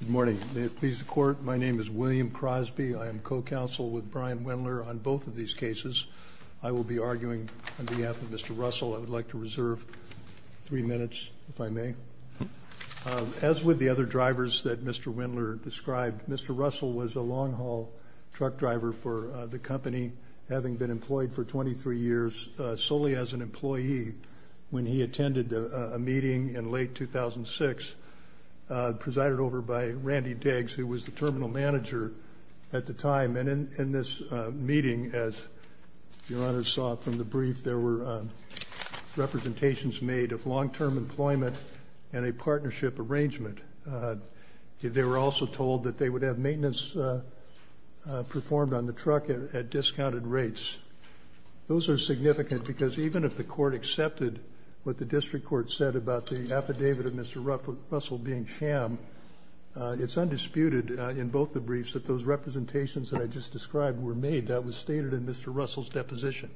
Good morning. May it please the Court, my name is William Crosby. I am co-counsel with Brian Wendler on both of these cases. I will be arguing on behalf of Mr. Russell. I would like to reserve three minutes, if I may. As with the other drivers that Mr. Wendler described, Mr. Russell was a long-haul truck driver for the company, having been employed for 23 years solely as an employee. When he attended a meeting in late 2006, presided over by Randy Diggs, who was the terminal manager at the time, and in this meeting, as Your Honor saw from the brief, there were representations made of long-term employment and a partnership arrangement. They were also told that they would have maintenance performed on the truck at discounted rates. Those are significant because even if the Court accepted what the District Court said about the affidavit of Mr. Russell being sham, it's undisputed in both the briefs that those representations that I just described were made. That was stated in Mr. Russell's deposition.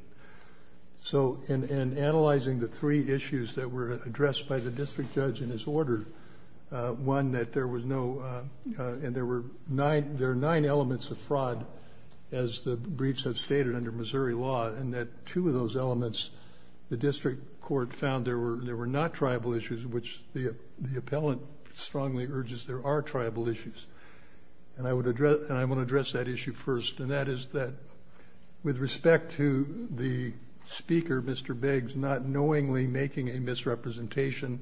So in analyzing the three issues that were addressed by the District Judge in his order, one, that there are nine elements of fraud, as the briefs have stated under Missouri law, and that two of those elements the District Court found there were not tribal issues, which the appellant strongly urges there are tribal issues. And I want to address that issue first, and that is that with respect to the speaker, Mr. Biggs, making a misrepresentation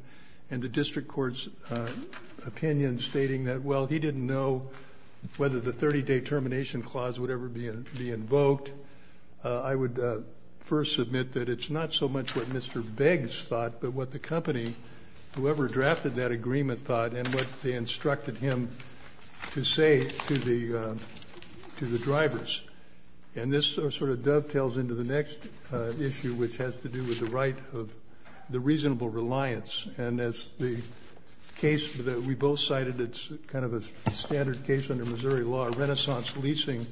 and the District Court's opinion stating that, well, he didn't know whether the 30-day termination clause would ever be invoked, I would first submit that it's not so much what Mr. Biggs thought, but what the company, whoever drafted that agreement, thought and what they instructed him to say to the drivers. And this sort of dovetails into the next issue, which has to do with the right of the reasonable reliance. And as the case that we both cited, it's kind of a standard case under Missouri law, Renaissance Leasing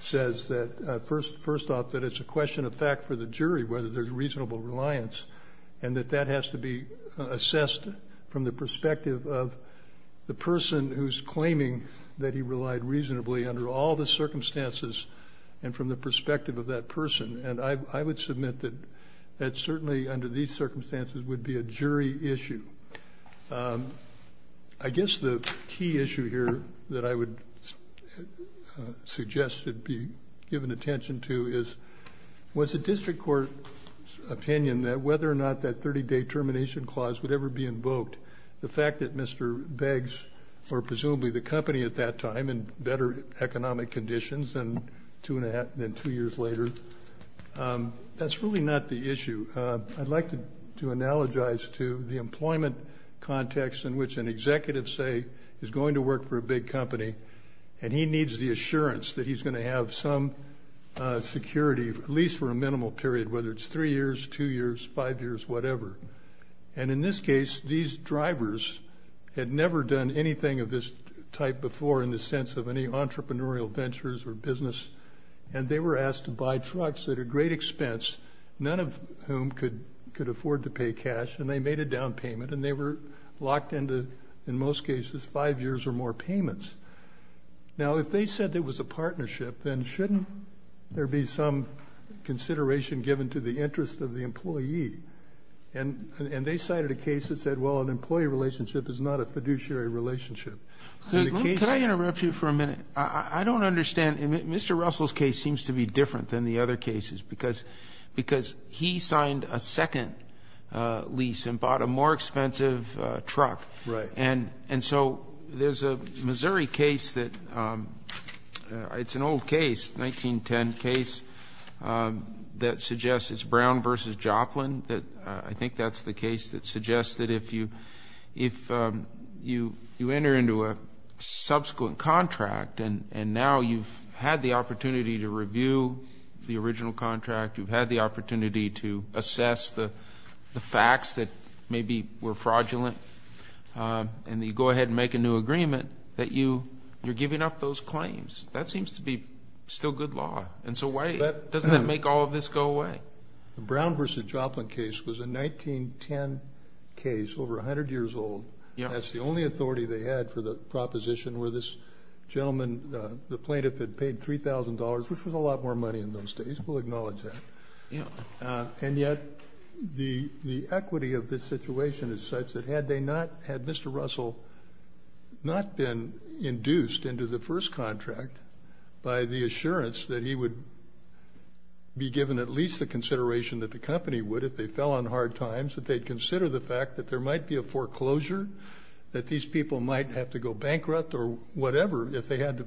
says that, first off, that it's a question of fact for the jury whether there's reasonable reliance, and that that has to be assessed from the perspective of the person who's claiming that he relied reasonably under all the circumstances and from the perspective of that person. And I would submit that certainly under these circumstances would be a jury issue. I guess the key issue here that I would suggest should be given attention to is, was the District Court's opinion that whether or not that 30-day termination clause would ever be invoked, the fact that Mr. Biggs, or presumably the company at that time, in better economic conditions than two years later, that's really not the issue. I'd like to analogize to the employment context in which an executive, say, is going to work for a big company and he needs the assurance that he's going to have some security, at least for a minimal period, whether it's three years, two years, five years, whatever. And in this case, these drivers had never done anything of this type before in the sense of any entrepreneurial ventures or business, and they were asked to buy trucks at a great expense, none of whom could afford to pay cash, and they made a down payment, and they were locked into, in most cases, five years or more payments. Now, if they said there was a partnership, then shouldn't there be some consideration given to the interest of the employee? And they cited a case that said, well, an employee relationship is not a fiduciary relationship. Could I interrupt you for a minute? I don't understand. Mr. Russell's case seems to be different than the other cases because he signed a second lease and bought a more expensive truck. Right. And so there's a Missouri case that's an old case, 1910 case, that suggests it's Brown v. Joplin. I think that's the case that suggests that if you enter into a subsequent contract and now you've had the opportunity to review the original contract, you've had the opportunity to assess the facts that maybe were fraudulent, and you go ahead and make a new agreement, that you're giving up those claims. That seems to be still good law. And so why doesn't that make all of this go away? The Brown v. Joplin case was a 1910 case, over 100 years old. That's the only authority they had for the proposition where this gentleman, the plaintiff, had paid $3,000, which was a lot more money in those days. We'll acknowledge that. And yet the equity of this situation is such that had they not, had Mr. Russell not been induced into the first contract by the assurance that he would be given at least the consideration that the company would if they fell on hard times, that they'd consider the fact that there might be a foreclosure, that these people might have to go bankrupt or whatever if they had to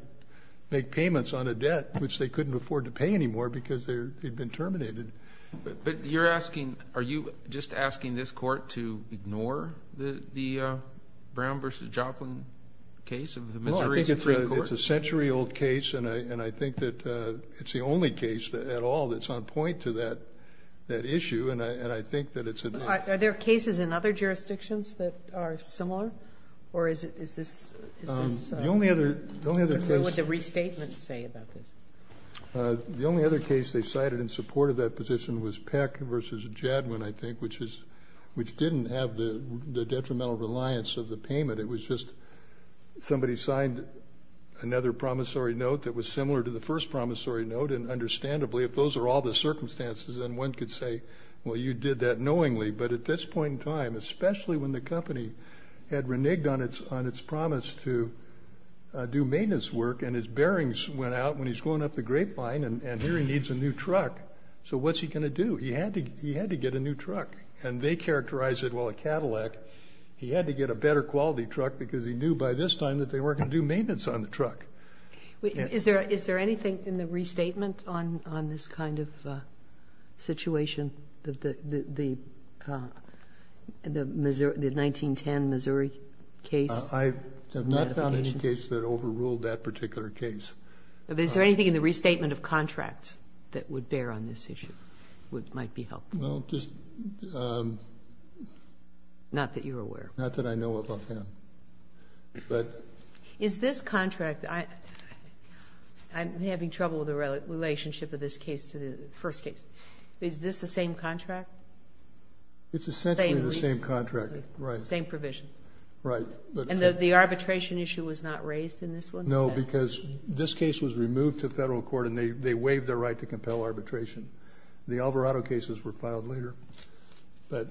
make payments on a debt, which they couldn't afford to pay anymore because they'd been terminated. But you're asking, are you just asking this court to ignore the Brown v. Joplin case? No, I think it's a century-old case, and I think that it's the only case at all that's on point to that issue. And I think that it's a date. Are there cases in other jurisdictions that are similar? Or is this the only other case? What would the restatement say about this? The only other case they cited in support of that position was Peck v. Jadwin, I think, which is, which didn't have the detrimental reliance of the payment. It was just somebody signed another promissory note that was similar to the first promissory note. If those are all the circumstances, then one could say, well, you did that knowingly. But at this point in time, especially when the company had reneged on its promise to do maintenance work and his bearings went out when he's going up the grapevine and here he needs a new truck. So what's he going to do? He had to get a new truck. And they characterized it, well, a Cadillac. He had to get a better quality truck because he knew by this time that they weren't going to do maintenance on the truck. Is there anything in the restatement on this kind of situation, the 1910 Missouri case? I have not found any case that overruled that particular case. Is there anything in the restatement of contracts that would bear on this issue, which might be helpful? Well, just... Not that you're aware. Not that I know of offhand. But... Is this contract... I'm having trouble with the relationship of this case to the first case. Is this the same contract? It's essentially the same contract. Same provision. Right. And the arbitration issue was not raised in this one? No, because this case was removed to federal court and they waived their right to compel arbitration. The Alvarado cases were filed later. But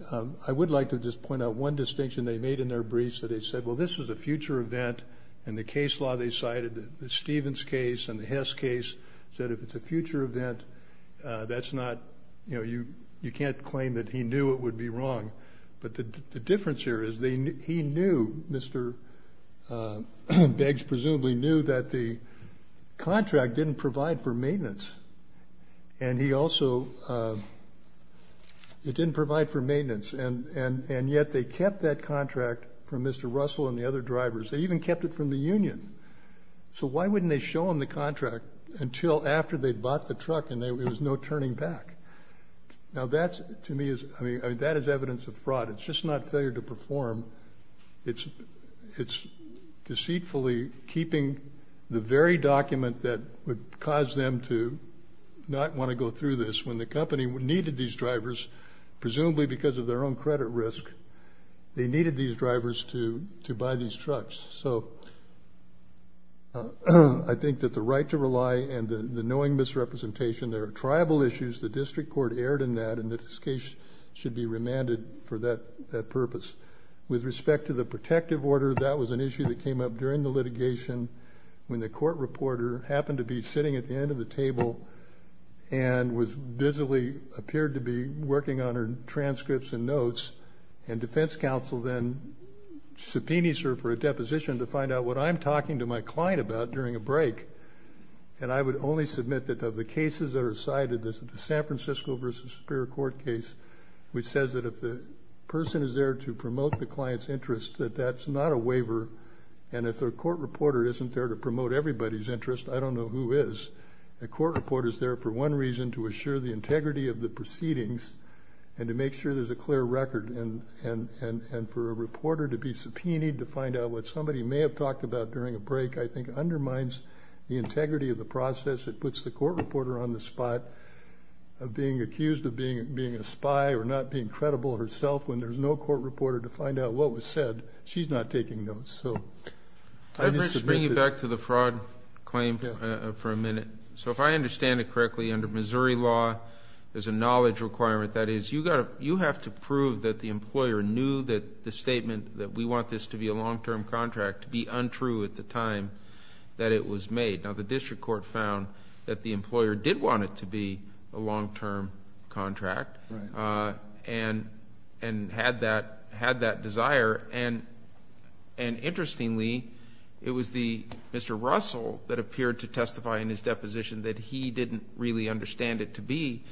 I would like to just point out one distinction they made in their briefs. They said, well, this is a future event. And the case law they cited, the Stevens case and the Hess case, said if it's a future event, that's not... You know, you can't claim that he knew it would be wrong. But the difference here is he knew, Mr. Beggs presumably knew, that the contract didn't provide for maintenance. And he also... It didn't provide for maintenance. And yet they kept that contract from Mr. Russell and the other drivers. They even kept it from the union. So why wouldn't they show him the contract until after they'd bought the truck and there was no turning back? Now that, to me, is... I mean, that is evidence of fraud. It's just not failure to perform. It's deceitfully keeping the very document that would cause them to not want to go through this. When the company needed these drivers, presumably because of their own credit risk, they needed these drivers to buy these trucks. So I think that the right to rely and the knowing misrepresentation, there are tribal issues. The district court erred in that. And this case should be remanded for that purpose. With respect to the protective order, that was an issue that came up during the litigation when the court reporter happened to be sitting at the end of the table and was visibly, appeared to be working on her transcripts and notes. And defense counsel then subpoenas her for a deposition to find out what I'm talking to my client about during a break. And I would only submit that of the cases that are cited, the San Francisco v. Superior Court case, which says that if the person is there to promote the client's interest, that that's not a waiver. And if their court reporter isn't there to promote everybody's interest, I don't know who is. The court reporter is there for one reason, to assure the integrity of the proceedings and to make sure there's a clear record. And for a reporter to be subpoenaed to find out what somebody may have talked about during a break, I think undermines the integrity of the process. It puts the court reporter on the spot of being accused of being a spy or not being credible herself. When there's no court reporter to find out what was said, she's not taking notes. So I just submit that. Let me bring you back to the fraud claim for a minute. So if I understand it correctly, under Missouri law, there's a knowledge requirement. That is, you have to prove that the employer knew that the statement that we want this to be a long-term contract to be untrue at the time that it was made. Now, the district court found that the employer did want it to be a long-term contract and had that desire. And interestingly, it was Mr. Russell that appeared to testify in his deposition that he didn't really understand it to be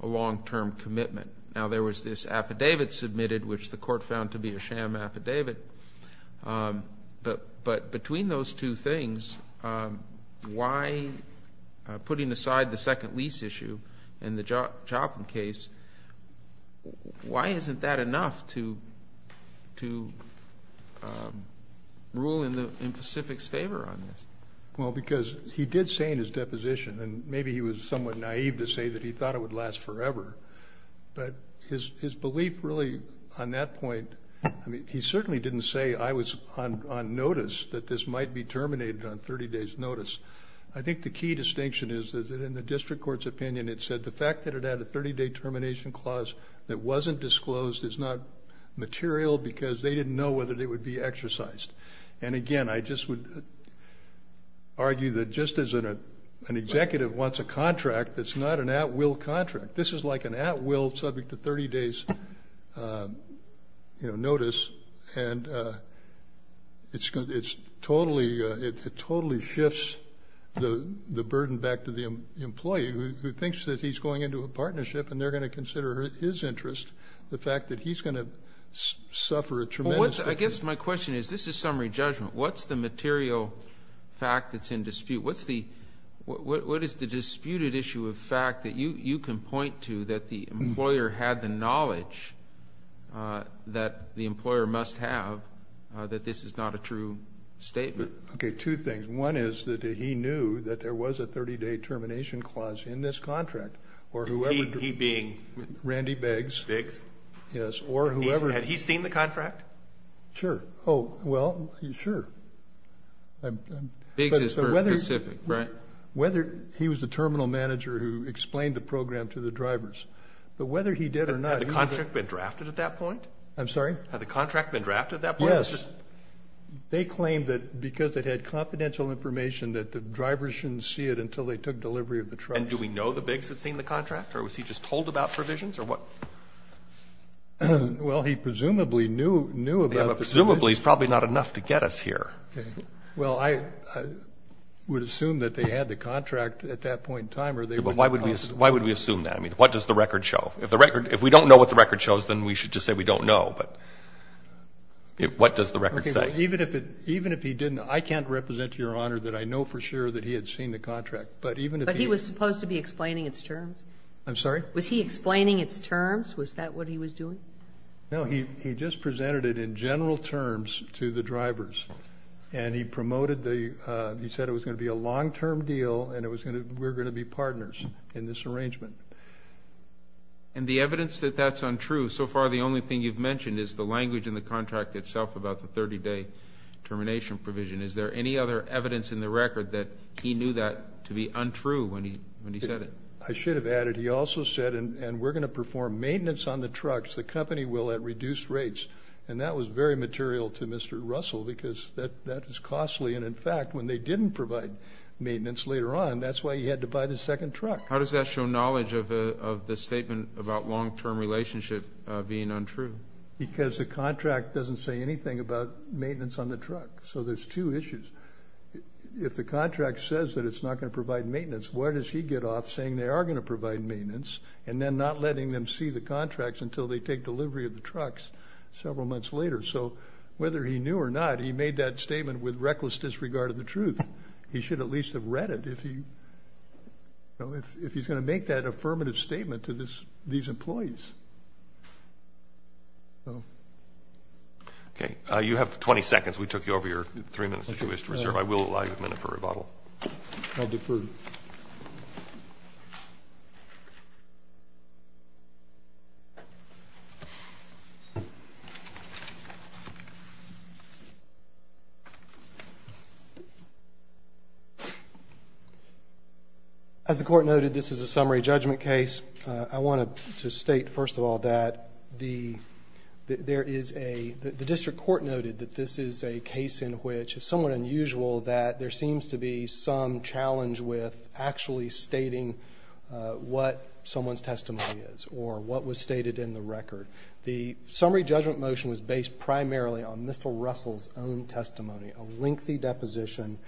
a long-term commitment. Now, there was this affidavit submitted, which the court found to be a sham affidavit. But between those two things, why, putting aside the second lease issue and the Joplin case, why isn't that enough to rule in Pacific's favor on this? Well, because he did say in his deposition, and maybe he was somewhat naive to say that he thought it would last forever, but his belief really on that point, I mean, he certainly didn't say I was on notice that this might be terminated on 30 days' notice. I think the key distinction is that in the district court's opinion, it said the fact that it had a 30-day termination clause that wasn't disclosed is not material because they didn't know whether they would be exercised. And again, I just would argue that just as an executive wants a contract, it's not an at-will contract. This is like an at-will subject to 30 days' notice, and it totally shifts the burden back to the employee who thinks that he's going into a partnership and they're going to consider his interest, the fact that he's going to suffer a tremendous. I guess my question is, this is summary judgment. What's the material fact that's in dispute? What is the disputed issue of fact that you can point to that the employer had the knowledge that the employer must have that this is not a true statement? Okay, two things. One is that he knew that there was a 30-day termination clause in this contract or whoever. He being? Randy Biggs. Biggs? Yes, or whoever. Had he seen the contract? Sure. Oh, well, sure. Biggs is very specific, right? Whether he was the terminal manager who explained the program to the drivers. But whether he did or not. Had the contract been drafted at that point? I'm sorry? Had the contract been drafted at that point? Yes. They claimed that because it had confidential information that the drivers shouldn't see it until they took delivery of the truck. And do we know the Biggs had seen the contract, or was he just told about provisions, or what? Well, he presumably knew about the provisions. Well, presumably he's probably not enough to get us here. Okay. Well, I would assume that they had the contract at that point in time. But why would we assume that? I mean, what does the record show? If we don't know what the record shows, then we should just say we don't know. But what does the record say? Even if he didn't, I can't represent to Your Honor that I know for sure that he had seen the contract. But he was supposed to be explaining its terms. I'm sorry? Was he explaining its terms? Was that what he was doing? No, he just presented it in general terms to the drivers. And he said it was going to be a long-term deal, and we're going to be partners in this arrangement. And the evidence that that's untrue, so far the only thing you've mentioned is the language in the contract itself about the 30-day termination provision. Is there any other evidence in the record that he knew that to be untrue when he said it? I should have added he also said, and we're going to perform maintenance on the trucks, the company will at reduced rates. And that was very material to Mr. Russell because that is costly. And, in fact, when they didn't provide maintenance later on, that's why he had to buy the second truck. How does that show knowledge of the statement about long-term relationship being untrue? Because the contract doesn't say anything about maintenance on the truck. So there's two issues. If the contract says that it's not going to provide maintenance, where does he get off saying they are going to provide maintenance and then not letting them see the contracts until they take delivery of the trucks several months later? So whether he knew or not, he made that statement with reckless disregard of the truth. He should at least have read it if he's going to make that affirmative statement to these employees. Okay. You have 20 seconds. We took you over your three minutes to reserve. I will allow you a minute for rebuttal. I defer to you. As the court noted, this is a summary judgment case. I wanted to state, first of all, that the district court noted that this is a case in which it's somewhat unusual that there seems to be some challenge with actually stating what someone's testimony is or what was stated in the record. The summary judgment motion was based primarily on Mr. Russell's own testimony, a lengthy deposition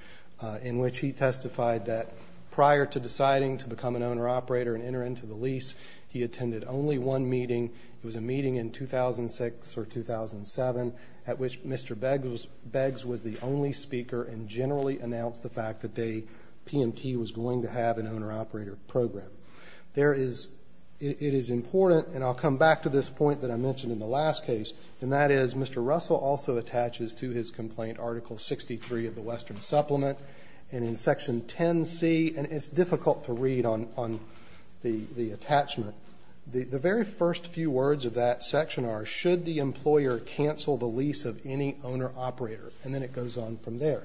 in which he testified that prior to deciding to become an owner-operator and enter into the lease, he attended only one meeting. It was a meeting in 2006 or 2007 at which Mr. Beggs was the only speaker and generally announced the fact that PMT was going to have an owner-operator program. It is important, and I'll come back to this point that I mentioned in the last case, and that is Mr. Russell also attaches to his complaint Article 63 of the Western Supplement, and in Section 10C, and it's difficult to read on the attachment, the very first few words of that section are, should the employer cancel the lease of any owner-operator? And then it goes on from there.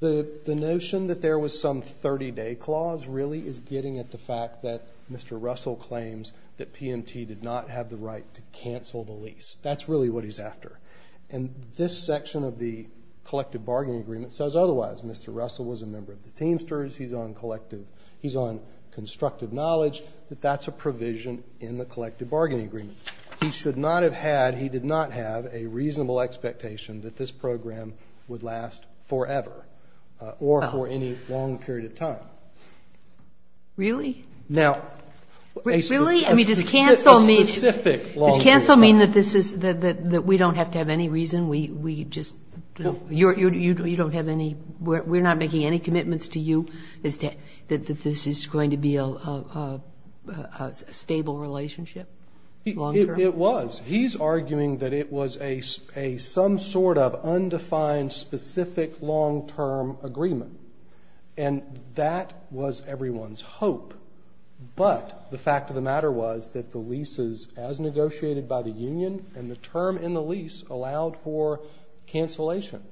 The notion that there was some 30-day clause really is getting at the fact that Mr. Russell claims that PMT did not have the right to cancel the lease. That's really what he's after. And this section of the collective bargaining agreement says otherwise. Mr. Russell was a member of the Teamsters. He's on constructive knowledge. That that's a provision in the collective bargaining agreement. He should not have had, he did not have a reasonable expectation that this program would last forever or for any long period of time. Now, a specific, a specific long period of time. Kagan. Does cancel mean that this is, that we don't have to have any reason? We just, you don't have any, we're not making any commitments to you that this is going to be a stable relationship long-term? It was. He's arguing that it was a some sort of undefined specific long-term agreement. And that was everyone's hope. But the fact of the matter was that the leases, as negotiated by the union, and the term in the lease allowed for cancellation.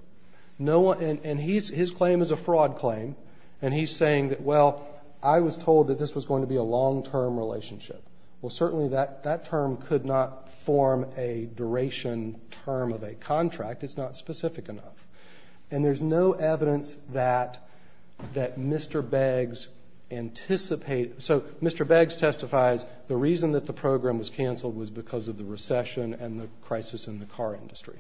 No one, and his claim is a fraud claim. And he's saying that, well, I was told that this was going to be a long-term relationship. Well, certainly that term could not form a duration term of a contract. It's not specific enough. And there's no evidence that Mr. Beggs anticipated. So Mr. Beggs testifies the reason that the program was canceled was because of the recession and the crisis in the car industry.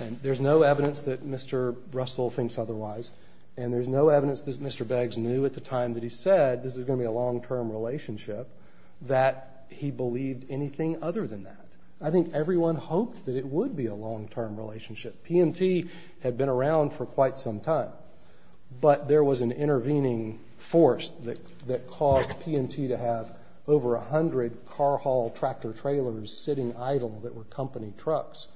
And there's no evidence that Mr. Russell thinks otherwise. And there's no evidence that Mr. Beggs knew at the time that he said this was going to be a long-term relationship that he believed anything other than that. I think everyone hoped that it would be a long-term relationship. PMT had been around for quite some time. But there was an intervening force that caused PMT to have over 100 car haul tractor trailers sitting idle that were company trucks.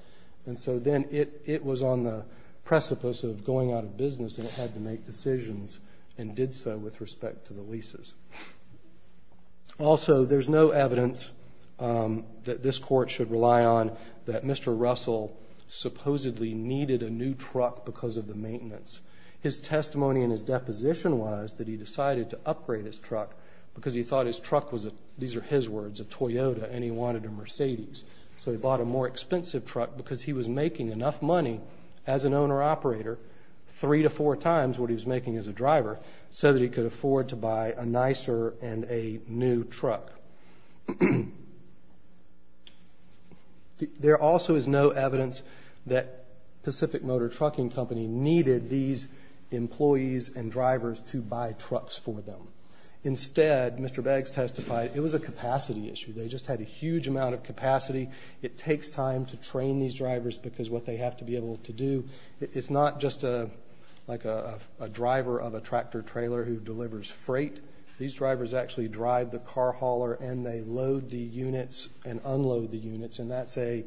And so then it was on the precipice of going out of business and it had to make decisions and did so with respect to the leases. Also, there's no evidence that this court should rely on that Mr. Russell supposedly needed a new truck because of the maintenance. His testimony in his deposition was that he decided to upgrade his truck because he thought his truck was a, these are his words, a Toyota, and he wanted a Mercedes. So he bought a more expensive truck because he was making enough money as an owner-operator, three to four times what he was making as a driver, so that he could afford to buy a nicer and a new truck. There also is no evidence that Pacific Motor Trucking Company needed these employees and drivers to buy trucks for them. Instead, Mr. Beggs testified it was a capacity issue. They just had a huge amount of capacity. It takes time to train these drivers because what they have to be able to do, it's not just like a driver of a tractor trailer who delivers freight. These drivers actually drive the car hauler and they load the units and unload the units, and that's a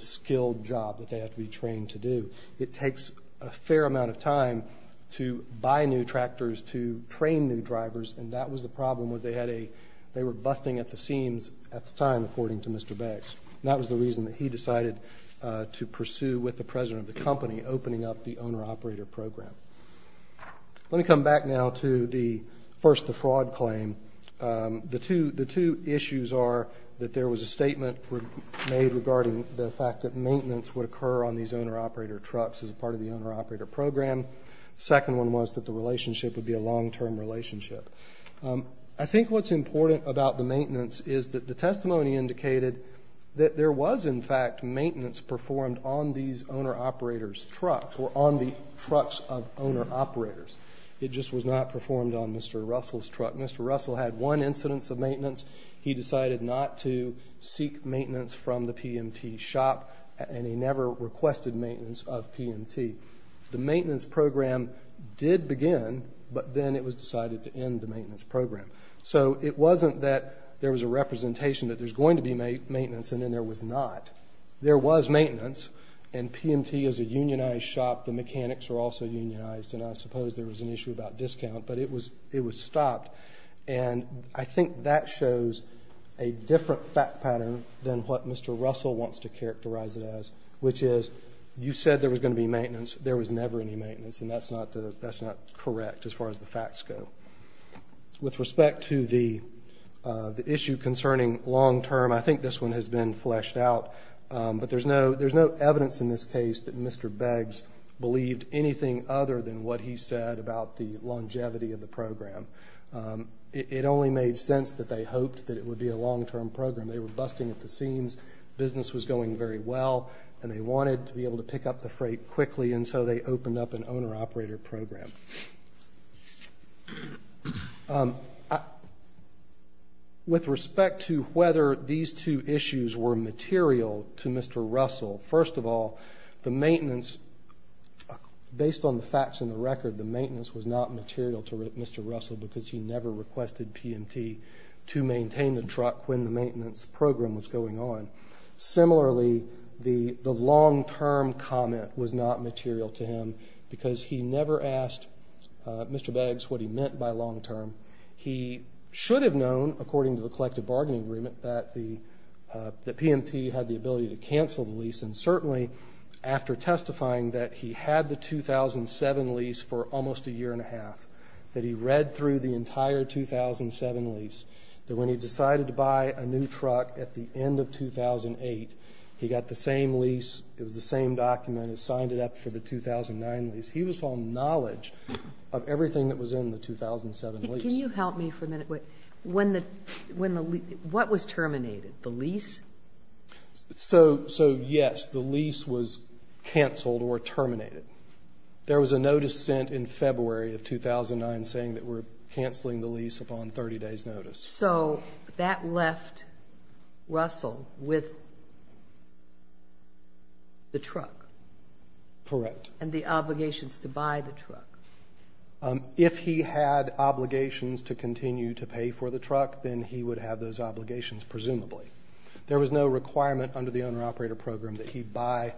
skilled job that they have to be trained to do. It takes a fair amount of time to buy new tractors, to train new drivers, and that was the problem was they had a, they were busting at the seams at the time, according to Mr. Beggs, and that was the reason that he decided to pursue with the president of the company, opening up the owner-operator program. Let me come back now to the first, the fraud claim. The two issues are that there was a statement made regarding the fact that maintenance would occur on these owner-operator trucks as part of the owner-operator program. The second one was that the relationship would be a long-term relationship. I think what's important about the maintenance is that the testimony indicated that there was, in fact, maintenance performed on these owner-operator trucks or on the trucks of owner-operators. It just was not performed on Mr. Russell's truck. Mr. Russell had one incidence of maintenance. He decided not to seek maintenance from the PMT shop, and he never requested maintenance of PMT. The maintenance program did begin, but then it was decided to end the maintenance program. So it wasn't that there was a representation that there's going to be maintenance and then there was not. There was maintenance, and PMT is a unionized shop. The mechanics are also unionized, and I suppose there was an issue about discount, but it was stopped. And I think that shows a different fact pattern than what Mr. Russell wants to characterize it as, which is you said there was going to be maintenance. There was never any maintenance, and that's not correct as far as the facts go. With respect to the issue concerning long-term, I think this one has been fleshed out, but there's no evidence in this case that Mr. Beggs believed anything other than what he said about the longevity of the program. It only made sense that they hoped that it would be a long-term program. They were busting at the seams. Business was going very well, and they wanted to be able to pick up the freight quickly, and so they opened up an owner-operator program. With respect to whether these two issues were material to Mr. Russell, first of all, the maintenance, based on the facts and the record, the maintenance was not material to Mr. Russell because he never requested PMT to maintain the truck when the maintenance program was going on. Similarly, the long-term comment was not material to him because he never asked Mr. Beggs what he meant by long-term. He should have known, according to the collective bargaining agreement, that the PMT had the ability to cancel the lease, and certainly after testifying that he had the 2007 lease for almost a year and a half, that he read through the entire 2007 lease, that when he decided to buy a new truck at the end of 2008, he got the same lease. It was the same document. He signed it up for the 2009 lease. He was full of knowledge of everything that was in the 2007 lease. Can you help me for a minute? What was terminated, the lease? So, yes, the lease was canceled or terminated. There was a notice sent in February of 2009 saying that we're canceling the lease upon 30 days' notice. So that left Russell with the truck. Correct. And the obligations to buy the truck. If he had obligations to continue to pay for the truck, then he would have those obligations, presumably. There was no requirement under the owner-operator program that he buy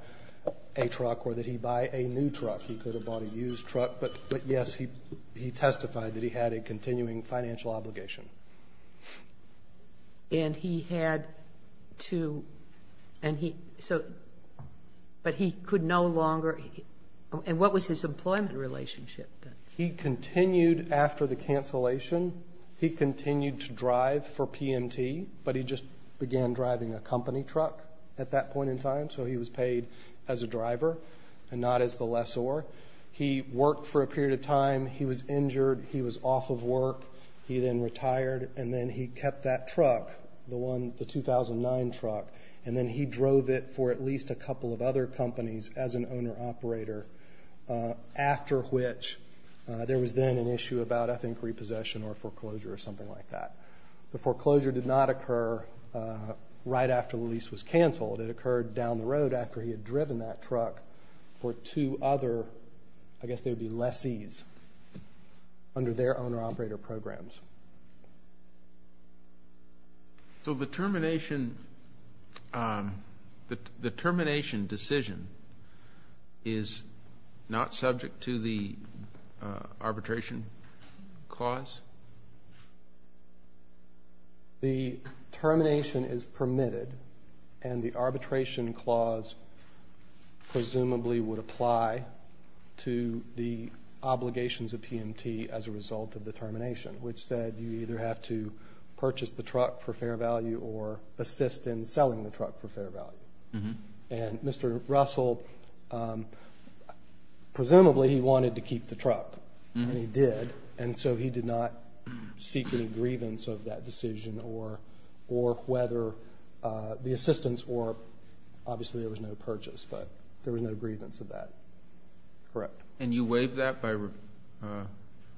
a truck or that he buy a new truck. He could have bought a used truck, but, yes, he testified that he had a continuing financial obligation. And he had to, and he, so, but he could no longer, and what was his employment relationship? He continued after the cancellation. He continued to drive for PMT, but he just began driving a company truck at that point in time, so he was paid as a driver and not as the lessor. He worked for a period of time. He was injured. He was off of work. He then retired, and then he kept that truck, the 2009 truck, and then he drove it for at least a couple of other companies as an owner-operator, after which there was then an issue about, I think, repossession or foreclosure or something like that. The foreclosure did not occur right after the lease was canceled. It occurred down the road after he had driven that truck for two other, I guess they would be lessees, under their owner-operator programs. So the termination decision is not subject to the arbitration clause? The termination is permitted, and the arbitration clause presumably would apply to the obligations of PMT as a result of the termination, which said you either have to purchase the truck for fair value or assist in selling the truck for fair value. And Mr. Russell, presumably he wanted to keep the truck, and he did, and so he did not seek any grievance of that decision or whether the assistance, or obviously there was no purchase, but there was no grievance of that. Correct. And you waive that?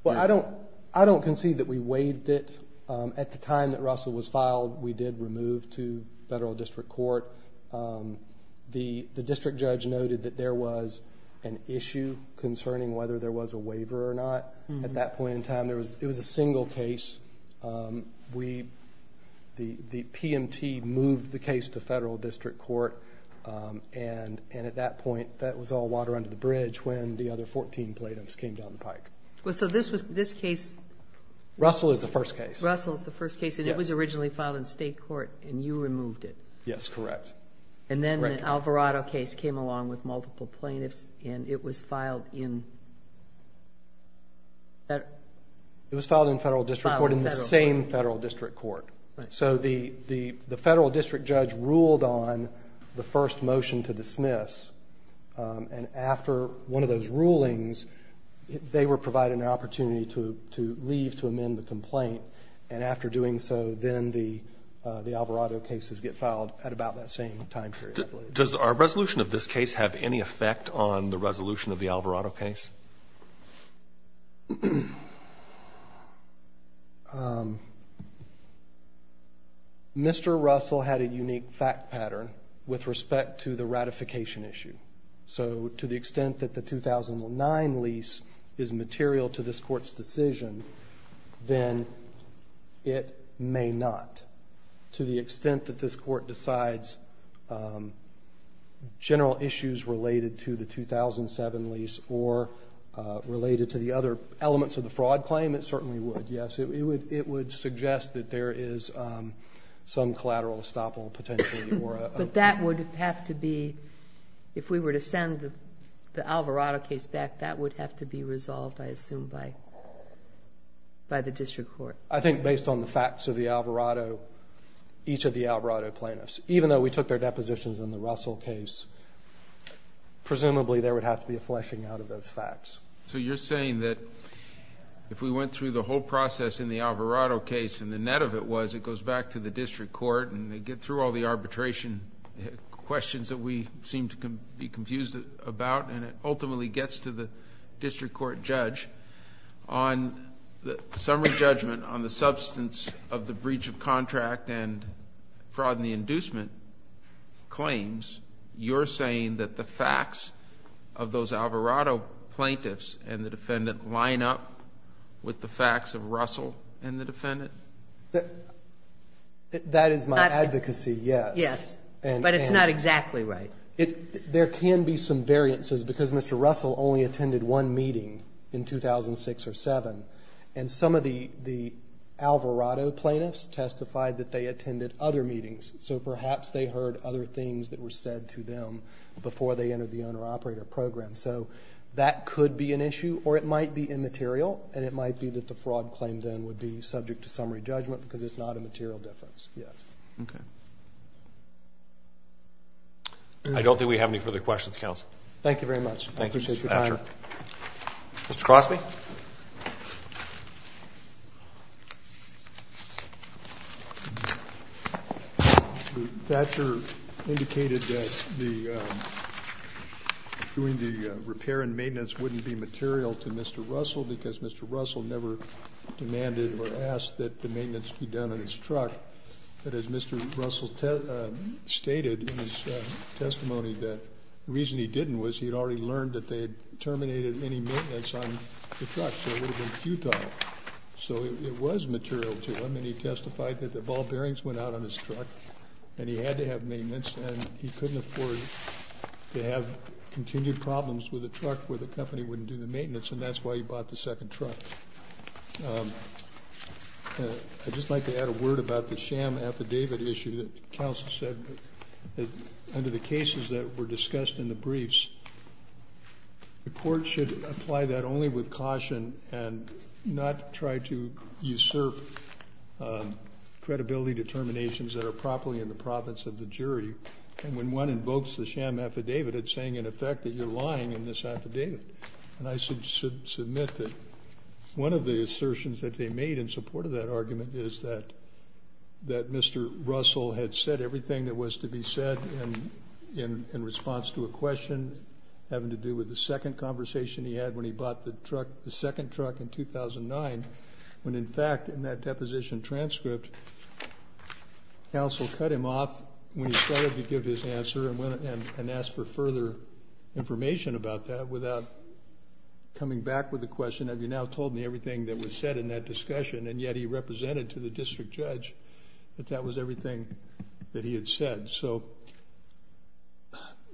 Well, I don't concede that we waived it. At the time that Russell was filed, we did remove to federal district court. The district judge noted that there was an issue concerning whether there was a waiver or not. At that point in time, it was a single case. The PMT moved the case to federal district court, and at that point that was all water under the bridge when the other 14 plaintiffs came down the pike. So this case? Russell is the first case. Russell is the first case, and it was originally filed in state court, and you removed it? Yes, correct. And then the Alvarado case came along with multiple plaintiffs, and it was filed in federal district court? It was filed in federal district court, in the same federal district court. So the federal district judge ruled on the first motion to dismiss, and after one of those rulings they were provided an opportunity to leave to amend the complaint, and after doing so then the Alvarado cases get filed at about that same time period. Does our resolution of this case have any effect on the resolution of the Alvarado case? Yes. Mr. Russell had a unique fact pattern with respect to the ratification issue. So to the extent that the 2009 lease is material to this court's decision, then it may not. To the extent that this court decides general issues related to the 2007 lease or related to the other elements of the fraud claim, it certainly would. Yes, it would suggest that there is some collateral estoppel potentially. But that would have to be, if we were to send the Alvarado case back, that would have to be resolved, I assume, by the district court. I think based on the facts of the Alvarado, each of the Alvarado plaintiffs, even though we took their depositions in the Russell case, presumably there would have to be a fleshing out of those facts. So you're saying that if we went through the whole process in the Alvarado case and the net of it was it goes back to the district court and they get through all the arbitration questions that we seem to be confused about and it ultimately gets to the district court judge, on the summary judgment on the substance of the breach of contract and fraud in the inducement claims, you're saying that the facts of those Alvarado plaintiffs and the defendant line up with the facts of Russell and the defendant? That is my advocacy, yes. But it's not exactly right. There can be some variances because Mr. Russell only attended one meeting in 2006 or 2007 and some of the Alvarado plaintiffs testified that they attended other meetings, so perhaps they heard other things that were said to them before they entered the owner-operator program. So that could be an issue or it might be immaterial and it might be that the fraud claim then would be subject to summary judgment because it's not a material difference, yes. Okay. I don't think we have any further questions, counsel. Thank you very much. Thank you, Mr. Thatcher. Mr. Crosby. Thatcher indicated that doing the repair and maintenance wouldn't be material to Mr. Russell because Mr. Russell never demanded or asked that the maintenance be done in his truck. But as Mr. Russell stated in his testimony that the reason he didn't was he had already learned that they had terminated any maintenance on the truck, so it would have been futile. So it was material to him and he testified that the ball bearings went out on his truck and he had to have maintenance and he couldn't afford to have continued problems with a truck where the company wouldn't do the maintenance and that's why he bought the second truck. I just like to add a word about the sham affidavit issue that counsel said that under the cases that were discussed in the briefs, the court should apply that only with caution and not try to usurp credibility determinations that are properly in the province of the jury. And when one invokes the sham affidavit, it's saying in effect that you're lying in this affidavit. And I should submit that one of the assertions that they made in support of that argument is that Mr. Russell had said everything that was to be said in response to a question having to do with the second conversation he had when he bought the second truck in 2009 when in fact in that deposition transcript, counsel cut him off when he started to give his answer and asked for further information about that without coming back with the question have you now told me everything that was said in that discussion? And yet he represented to the district judge that that was everything that he had said. So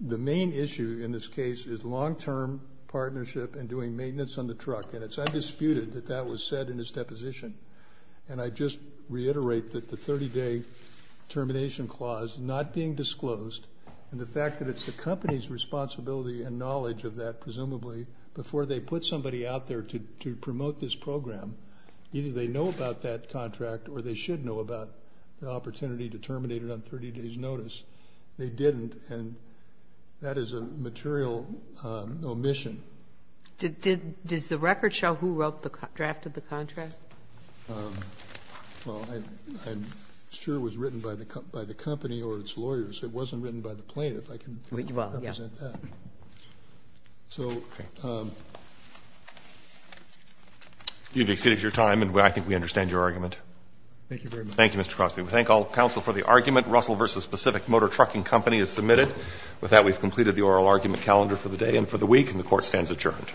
the main issue in this case is long-term partnership and doing maintenance on the truck and it's undisputed that that was said in his deposition. And I just reiterate that the 30-day termination clause not being disclosed and the fact that it's the company's responsibility and knowledge of that presumably before they put somebody out there to promote this program, either they know about that contract or they should know about the opportunity to terminate it on 30 days' notice. They didn't and that is a material omission. Does the record show who wrote the draft of the contract? Well, I'm sure it was written by the company or its lawyers. It wasn't written by the plaintiff. I can represent that. So you've exceeded your time and I think we understand your argument. Thank you very much. Thank you, Mr. Crosby. We thank all counsel for the argument. Russell v. Specific Motor Trucking Company is submitted. With that, we've completed the oral argument calendar for the day and for the week and the Court stands adjourned.